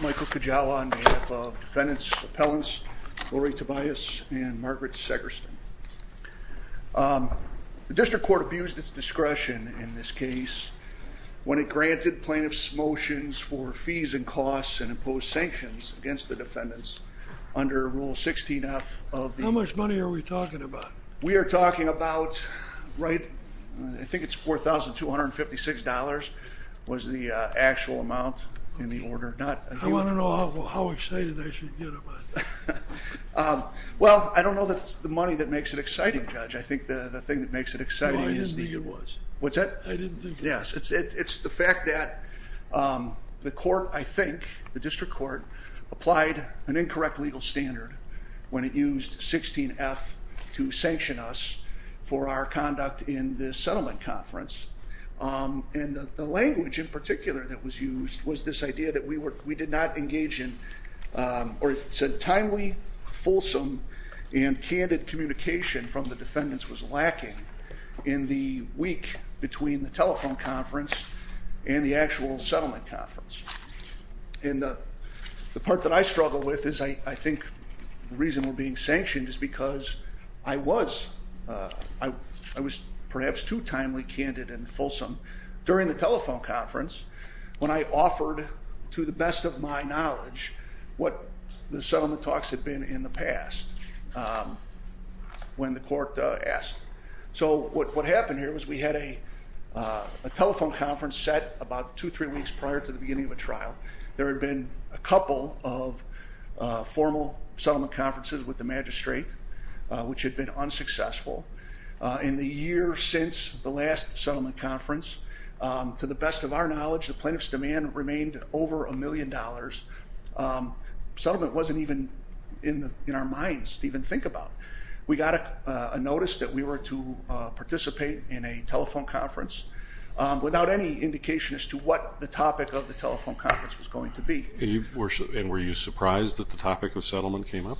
Michael Kujawa on behalf of defendants appellants Lauri Tobias and Margaret Segerstin. The district court abused its discretion in this case when it granted plaintiffs' motions for fees and costs and imposed sanctions against the defendants under Rule 16F of the... How much money are we talking about? We are talking about, right, I think it's $4,256 was the actual amount in the order. I want to know how excited I should get about that. Well, I don't know that it's the money that makes it exciting, Judge. I think the thing that makes it exciting is the... No, I didn't think it was. What's that? I didn't think it was. Yes, it's the fact that the court, I think, the district court, applied an incorrect legal standard when it used 16F to sanction us for our conduct in this settlement conference. And the language in particular that was used was this idea that we did not engage in, or it said timely, fulsome, and candid communication from the defendants was lacking in the week between the telephone conference and the actual settlement conference. And the part that I struggle with is I think the reason we're being sanctioned is because I was perhaps too timely, candid, and fulsome during the telephone conference when I offered, to the best of my knowledge, what the settlement talks had been in the past when the court asked. So what happened here was we had a telephone conference set about two, three weeks prior to the beginning of a trial. There had been a couple of formal settlement conferences with the magistrate, which had been unsuccessful. In the year since the last settlement conference, to the best of our knowledge, the plaintiff's demand remained over a million dollars. Settlement wasn't even in our minds to even think about. We got a notice that we were to participate in a telephone conference without any indication as to what the topic of the telephone conference was going to be. And were you surprised that the topic of settlement came up?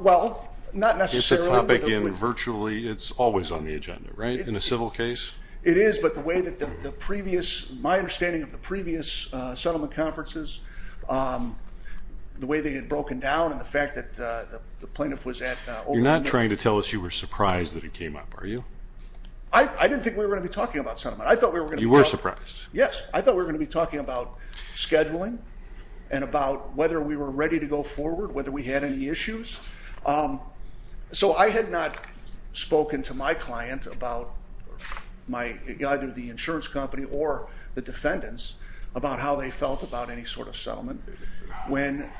Well, not necessarily. It's a topic in virtually, it's always on the agenda, right? In a civil case? It is, but the way that the previous, my understanding of the previous settlement conferences, the way they had broken down, and the fact that the plaintiff was at- You're not trying to tell us you were surprised that it came up, are you? I didn't think we were going to be talking about settlement. I thought we were going to be- You were surprised. Yes. I thought we were going to be talking about scheduling and about whether we were ready to go forward, whether we had any issues. So I had not spoken to my client about either the insurance company or the defendants about how they felt about any sort of settlement. When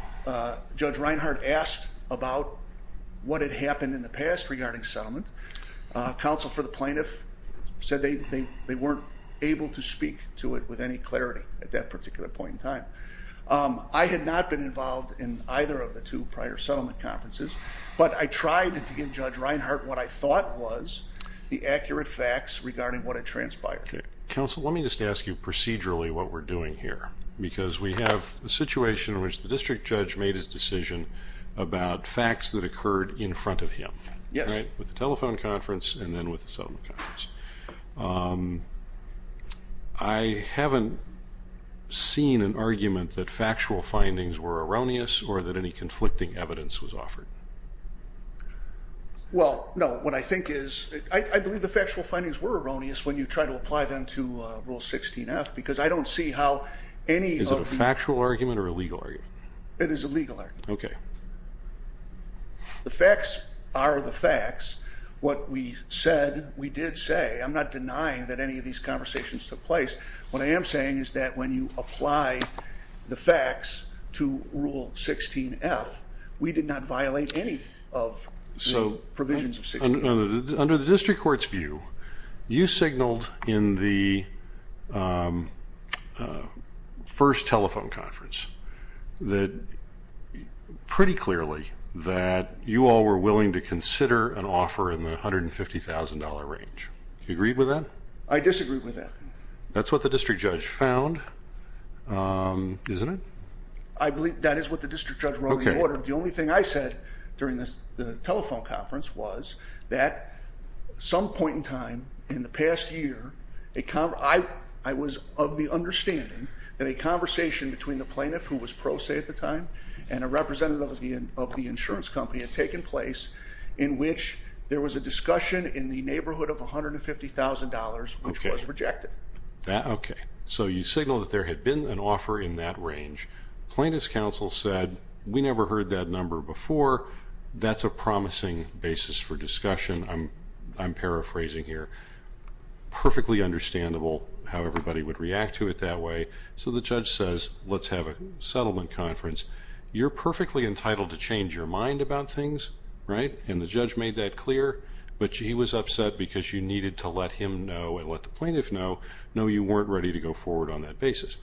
Judge Reinhart asked about what had happened in the past regarding settlement, counsel for the plaintiff said they weren't able to speak to it with any clarity at that particular point in time. I had not been involved in either of the two prior settlement conferences, but I tried to give Judge Reinhart what I thought was the accurate facts regarding what had transpired. Counsel, let me just ask you procedurally what we're doing here, because we have a situation in which the district judge made his decision about facts that occurred in front of him. Yes. With the telephone conference and then with the settlement conference. I haven't seen an argument that factual findings were erroneous or that any conflicting evidence was offered. Well, no. What I think is, I believe the factual findings were erroneous when you try to apply them to Rule 16-F, because I don't see how any of- Is it a factual argument or a legal argument? It is a legal argument. Okay. The facts are the facts. What we said, we did say. I'm not denying that any of these conversations took place. What I am saying is that when you apply the facts to Rule 16-F, we did not violate any of the provisions of 16-F. Under the district court's view, you signaled in the first telephone conference that pretty clearly that you all were willing to consider an offer in the $150,000 range. Do you agree with that? I disagree with that. That's what the district judge found, isn't it? I believe that is what the district judge wrote in the order. The only thing I said during the telephone conference was that some point in time in the past year, I was of the understanding that a conversation between the plaintiff, who was pro se at the time, and a representative of the insurance company had taken place in which there was a discussion in the neighborhood of $150,000, which was rejected. Okay. So you signaled that there had been an offer in that range. Plaintiff's counsel said, we never heard that number before. That's a promising basis for discussion. I'm paraphrasing here. Perfectly understandable how everybody would react to it that way. So the judge says, let's have a settlement conference. You're perfectly entitled to change your mind about things, right? And the judge made that clear. But he was upset because you needed to let him know and let the plaintiff know, no, you weren't ready to go forward on that basis.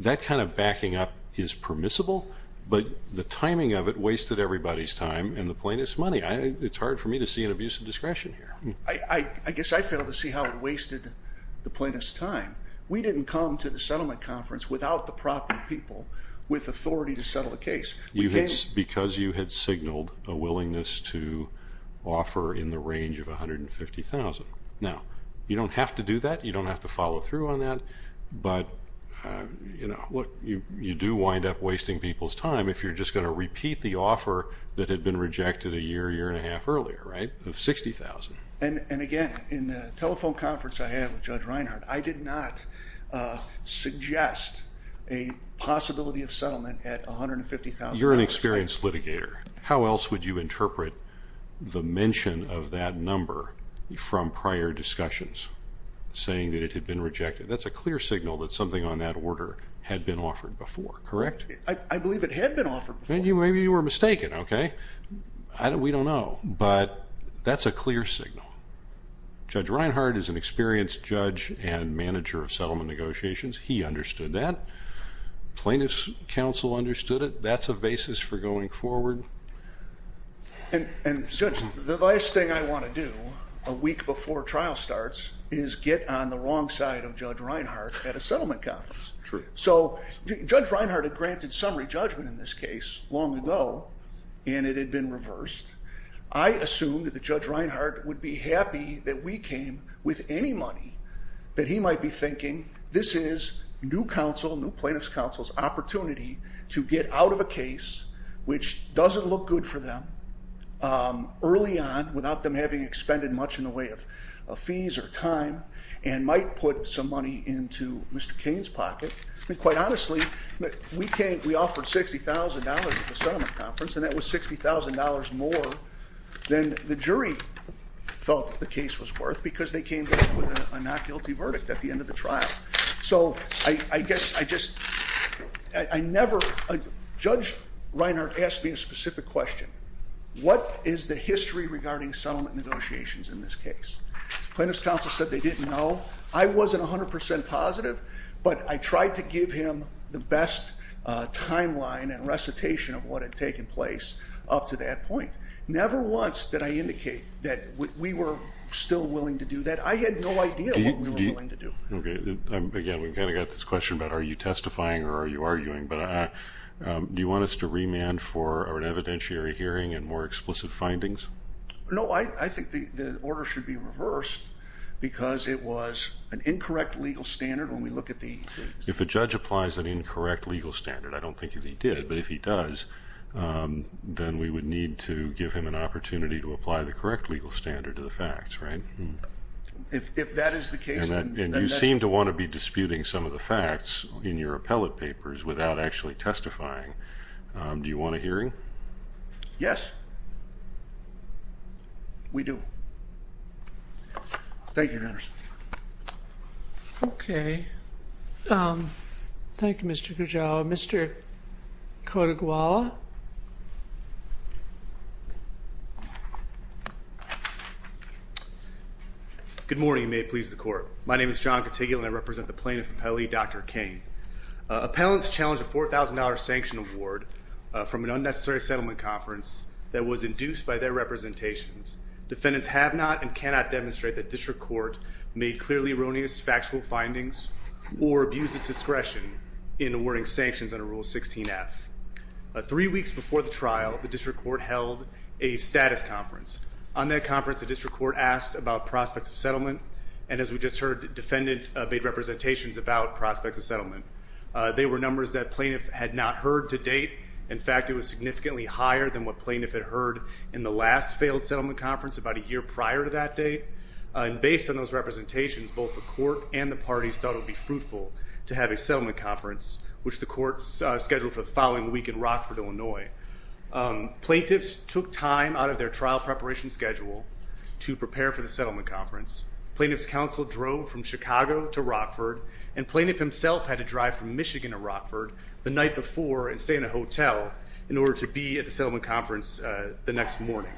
That kind of backing up is permissible, but the timing of it wasted everybody's time and the plaintiff's money. It's hard for me to see an abuse of discretion here. I guess I failed to see how it wasted the plaintiff's time. We didn't come to the settlement conference without the proper people with authority to settle the case. Because you had signaled a willingness to offer in the range of $150,000. Now, you don't have to do that. You don't have to follow through on that. But, you know, look, you do wind up wasting people's time if you're just going to repeat the offer that had been rejected a year, year and a half earlier, right, of $60,000. And, again, in the telephone conference I had with Judge Reinhart, I did not suggest a possibility of settlement at $150,000. You're an experienced litigator. How else would you interpret the mention of that number from prior discussions, saying that it had been rejected? That's a clear signal that something on that order had been offered before, correct? I believe it had been offered before. Maybe you were mistaken, okay? We don't know. But that's a clear signal. Judge Reinhart is an experienced judge and manager of settlement negotiations. He understood that. Plaintiff's counsel understood it. That's a basis for going forward. And, Judge, the last thing I want to do a week before trial starts is get on the wrong side of Judge Reinhart at a settlement conference. So Judge Reinhart had granted summary judgment in this case long ago, and it had been reversed. I assumed that Judge Reinhart would be happy that we came with any money that he might be thinking, this is new counsel, new plaintiff's counsel's opportunity to get out of a case which doesn't look good for them early on, without them having expended much in the way of fees or time, and might put some money into Mr. Cain's pocket. And quite honestly, we offered $60,000 at the settlement conference, and that was $60,000 more than the jury felt the case was worth, because they came back with a not guilty verdict at the end of the trial. So I guess I just, I never, Judge Reinhart asked me a specific question. What is the history regarding settlement negotiations in this case? Plaintiff's counsel said they didn't know. I wasn't 100% positive, but I tried to give him the best timeline and recitation of what had taken place up to that point. Never once did I indicate that we were still willing to do that. I had no idea what we were willing to do. Again, we've kind of got this question about are you testifying or are you arguing, but do you want us to remand for an evidentiary hearing and more explicit findings? No, I think the order should be reversed because it was an incorrect legal standard when we look at the- If a judge applies an incorrect legal standard, I don't think that he did, but if he does, then we would need to give him an opportunity to apply the correct legal standard to the facts, right? If that is the case- And you seem to want to be disputing some of the facts in your appellate papers without actually testifying. Do you want a hearing? Yes. We do. Thank you, Your Honors. Okay. Thank you, Mr. Kujawa. Mr. Cotuguala? Good morning, and may it please the Court. My name is John Cotuguala, and I represent the plaintiff appellee, Dr. King. Appellants challenged a $4,000 sanction award from an unnecessary settlement conference that was induced by their representations. Defendants have not and cannot demonstrate that district court made clearly erroneous factual findings or abused its discretion in awarding sanctions under Rule 16F. Three weeks before the trial, the district court held a status conference. On that conference, the district court asked about prospects of settlement, and as we just heard, the defendant made representations about prospects of settlement. They were numbers that plaintiff had not heard to date. In fact, it was significantly higher than what plaintiff had heard in the last failed settlement conference about a year prior to that date. And based on those representations, both the court and the parties thought it would be fruitful to have a settlement conference, which the court scheduled for the following week in Rockford, Illinois. Plaintiffs took time out of their trial preparation schedule to prepare for the settlement conference. Plaintiff's counsel drove from Chicago to Rockford, and plaintiff himself had to drive from Michigan to Rockford the night before and stay in a hotel in order to be at the settlement conference the next morning.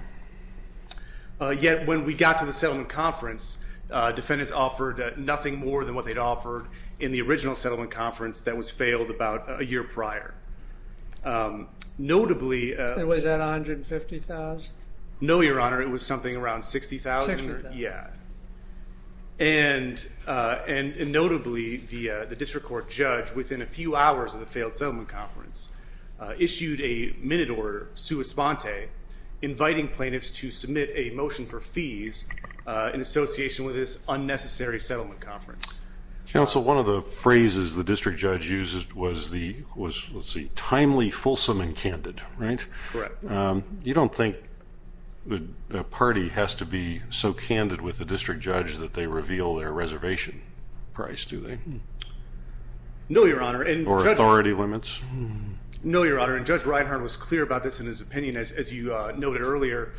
Yet when we got to the settlement conference, defendants offered nothing more than what they'd offered in the original settlement conference that was failed about a year prior. Notably... And was that $150,000? No, Your Honor, it was something around $60,000. $60,000. Yeah. And notably, the district court judge, within a few hours of the failed settlement conference, issued a minute order, sua sponte, inviting plaintiffs to submit a motion for fees in association with this unnecessary settlement conference. Counsel, one of the phrases the district judge used was, let's see, timely, fulsome, and candid, right? Correct. You don't think the party has to be so candid with the district judge that they reveal their reservation price, do they? No, Your Honor. Or authority limits? No, Your Honor, and Judge Reinhart was clear about this in his opinion, as you noted earlier.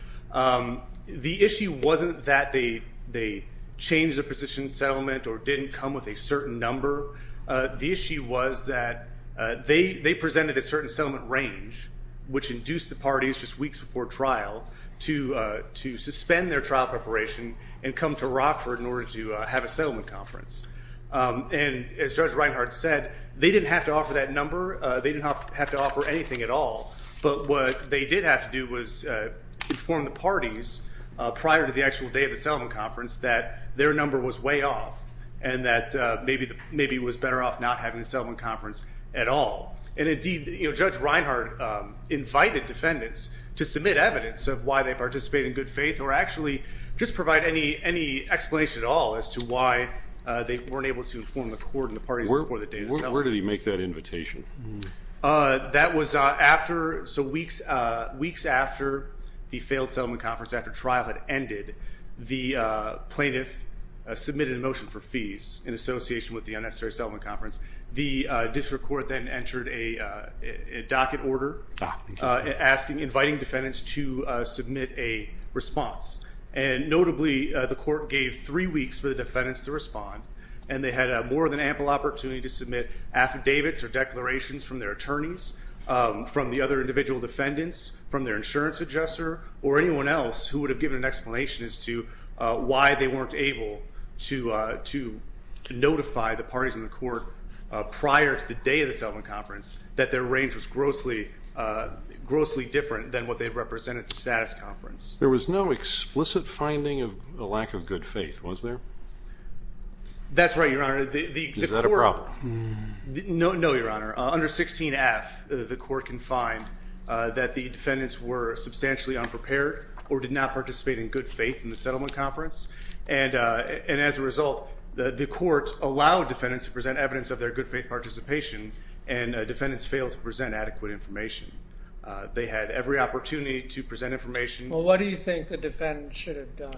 The issue wasn't that they changed their position in settlement or didn't come with a certain number. The issue was that they presented a certain settlement range, which induced the parties, just weeks before trial, to suspend their trial preparation and come to Rockford in order to have a settlement conference. And as Judge Reinhart said, they didn't have to offer that number. They didn't have to offer anything at all. But what they did have to do was inform the parties prior to the actual day of the settlement conference that their number was way off and that maybe it was better off not having a settlement conference at all. And indeed, Judge Reinhart invited defendants to submit evidence of why they participate in good faith or actually just provide any explanation at all as to why they weren't able to inform the court and the parties before the day of the settlement conference. Where did he make that invitation? That was after, so weeks after the failed settlement conference, after trial had ended, the plaintiff submitted a motion for fees in association with the unnecessary settlement conference. The district court then entered a docket order inviting defendants to submit a response. And notably, the court gave three weeks for the defendants to respond. And they had more than ample opportunity to submit affidavits or declarations from their attorneys, from the other individual defendants, from their insurance adjuster, or anyone else who would have given an explanation as to why they weren't able to notify the parties in the court prior to the day of the settlement conference that their range was grossly different than what they represented at the status conference. There was no explicit finding of a lack of good faith, was there? That's right, Your Honor. Is that a problem? No, Your Honor. Under 16F, the court can find that the defendants were substantially unprepared or did not participate in good faith in the settlement conference. And as a result, the court allowed defendants to present evidence of their good faith participation, and defendants failed to present adequate information. They had every opportunity to present information. Well, what do you think the defendants should have done?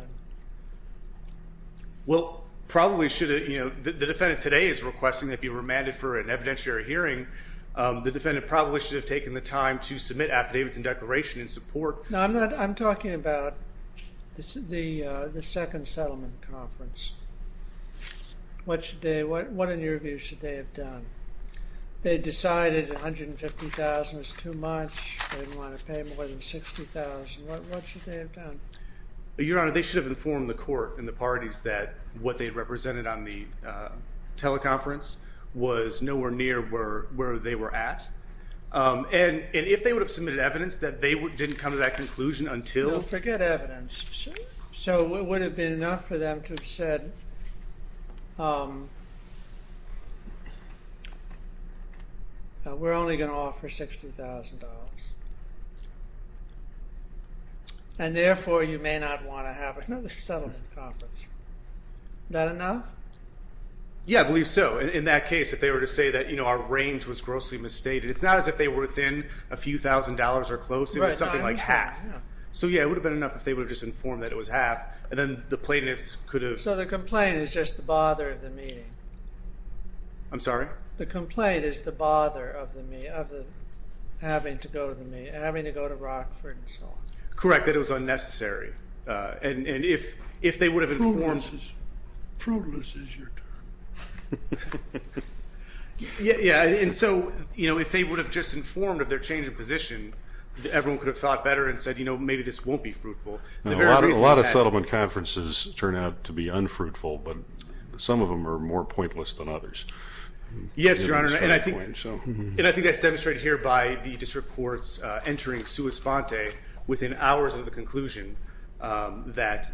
Well, probably should have, you know, the defendant today is requesting they be remanded for an evidentiary hearing. The defendant probably should have taken the time to submit affidavits and declarations in support. No, I'm talking about the second settlement conference. What in your view should they have done? They decided $150,000 was too much. They didn't want to pay more than $60,000. What should they have done? Your Honor, they should have informed the court and the parties that what they represented on the teleconference was nowhere near where they were at. And if they would have submitted evidence that they didn't come to that conclusion until... Don't forget evidence. So it would have been enough for them to have said, we're only going to offer $60,000. And therefore, you may not want to have another settlement conference. Is that enough? Yeah, I believe so. In that case, if they were to say that, you know, our range was grossly misstated, it's not as if they were within a few thousand dollars or close. It was something like half. So, yeah, it would have been enough if they would have just informed that it was half. And then the plaintiffs could have... So the complaint is just the bother of the meeting. I'm sorry? The complaint is the bother of the meeting, of the having to go to the meeting, having to go to Rockford and so on. Correct, that it was unnecessary. And if they would have informed... Fruitless is your time. Yeah, and so, you know, if they would have just informed of their change of position, everyone could have thought better and said, you know, maybe this won't be fruitful. A lot of settlement conferences turn out to be unfruitful, but some of them are more pointless than others. Yes, Your Honor, and I think that's demonstrated here by the district courts entering sua sponte within hours of the conclusion that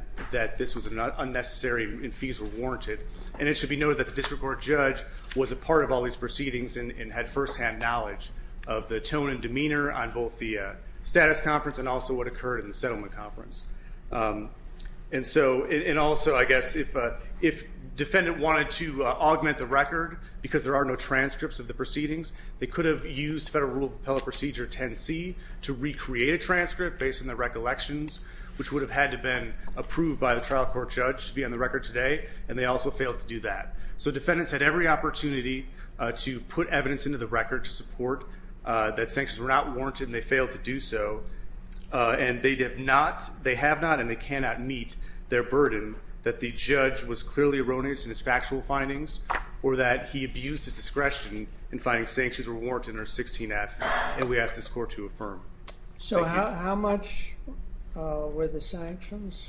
this was unnecessary and fees were warranted. And it should be noted that the district court judge was a part of all these proceedings and had firsthand knowledge of the tone and demeanor on both the status conference and also what occurred in the settlement conference. And also, I guess, if defendant wanted to augment the record because there are no transcripts of the proceedings, they could have used Federal Rule of Appellate Procedure 10C to recreate a transcript based on the recollections, which would have had to been approved by the trial court judge to be on the record today, and they also failed to do that. So defendants had every opportunity to put evidence into the record to support that sanctions were not warranted and they failed to do so. And they have not and they cannot meet their burden that the judge was clearly erroneous in his factual findings or that he abused his discretion in finding sanctions were warranted under 16F. And we ask this court to affirm. So how much were the sanctions?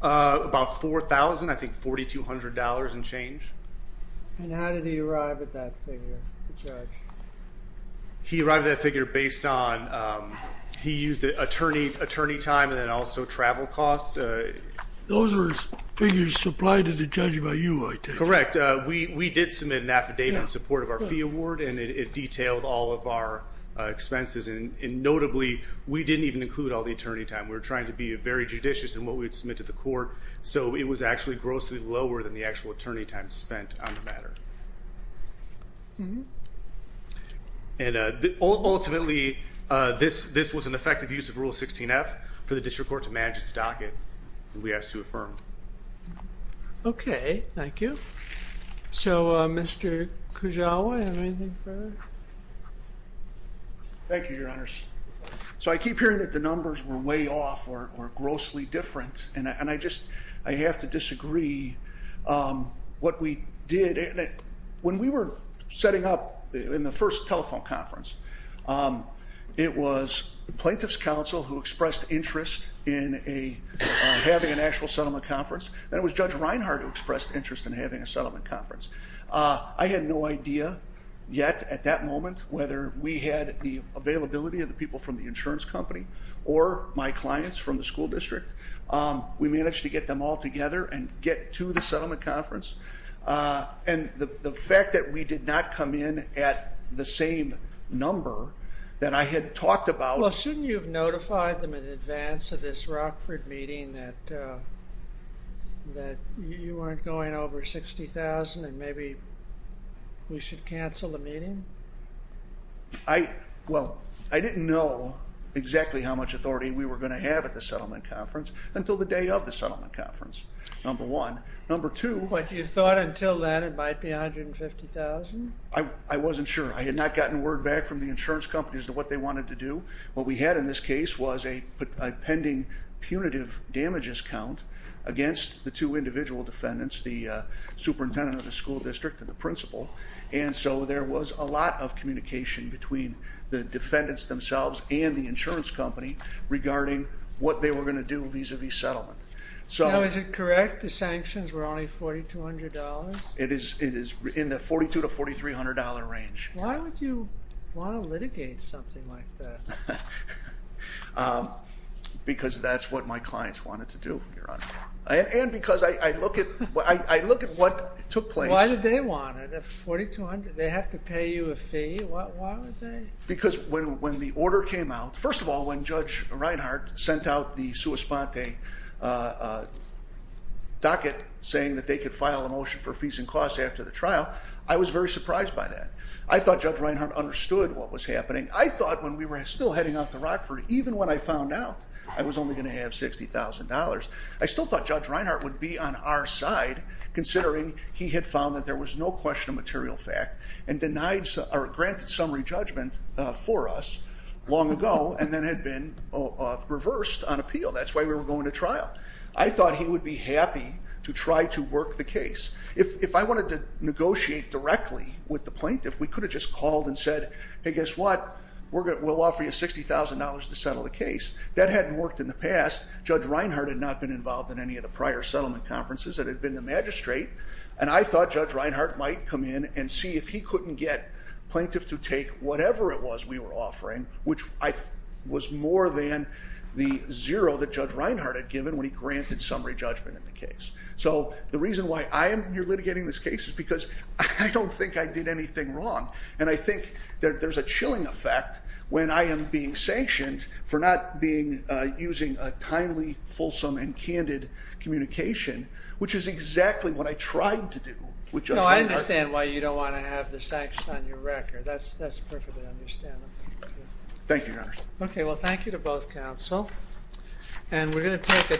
About $4,000, I think $4,200 and change. And how did he arrive at that figure, the judge? He arrived at that figure based on he used attorney time and then also travel costs. Those are figures supplied to the judge by you, I take it. Correct. We did submit an affidavit in support of our fee award and it detailed all of our expenses. And notably, we didn't even include all the attorney time. We were trying to be very judicious in what we had submitted to the court. So it was actually grossly lower than the actual attorney time spent on the matter. And ultimately, this was an effective use of Rule 16F for the district court to manage its docket. We ask to affirm. Okay. Thank you. So Mr. Kujawa, do you have anything further? Thank you, Your Honors. So I keep hearing that the numbers were way off or grossly different. And I just have to disagree what we did. When we were setting up in the first telephone conference, it was the Plaintiff's Counsel who expressed interest in having an actual settlement conference. Then it was Judge Reinhardt who expressed interest in having a settlement conference. I had no idea yet at that moment whether we had the availability of the people from the insurance company or my clients from the school district. We managed to get them all together and get to the settlement conference. And the fact that we did not come in at the same number that I had talked about. Well, shouldn't you have notified them in advance of this Rockford meeting that you weren't going over $60,000 and maybe we should cancel the meeting? Well, I didn't know exactly how much authority we were going to have at the settlement conference until the day of the settlement conference, number one. Number two. But you thought until then it might be $150,000? I wasn't sure. I had not gotten word back from the insurance companies of what they wanted to do. What we had in this case was a pending punitive damages count against the two individual defendants, the superintendent of the school district and the principal. And so there was a lot of communication between the defendants themselves and the insurance company regarding what they were going to do vis-a-vis settlement. Now, is it correct the sanctions were only $4,200? It is in the $4,200 to $4,300 range. Why would you want to litigate something like that? Because that's what my clients wanted to do, Your Honor. And because I look at what took place. Why did they want it at $4,200? They have to pay you a fee? Why would they? Because when the order came out, first of all, when Judge Reinhart sent out the sua sponte docket saying that they could file a motion for fees and costs after the trial, I was very surprised by that. I thought Judge Reinhart understood what was happening. I thought when we were still heading out to Rockford, even when I found out I was only going to have $60,000, I still thought Judge Reinhart would be on our side, considering he had found that there was no question of material fact and granted summary judgment for us long ago and then had been reversed on appeal. That's why we were going to trial. I thought he would be happy to try to work the case. If I wanted to negotiate directly with the plaintiff, we could have just called and said, hey, guess what, we'll offer you $60,000 to settle the case. That hadn't worked in the past. Judge Reinhart had not been involved in any of the prior settlement conferences. It had been the magistrate. And I thought Judge Reinhart might come in and see if he couldn't get plaintiff to take whatever it was we were offering, which was more than the zero that Judge Reinhart had given when he granted summary judgment in the case. So the reason why I am here litigating this case is because I don't think I did anything wrong. And I think there's a chilling effect when I am being sanctioned for not using a timely, fulsome, and candid communication, which is exactly what I tried to do with Judge Reinhart. No, I understand why you don't want to have the sanctions on your record. That's perfectly understandable. Thank you, Your Honor. Okay, well, thank you to both counsel. And we're going to take a 10-minute break.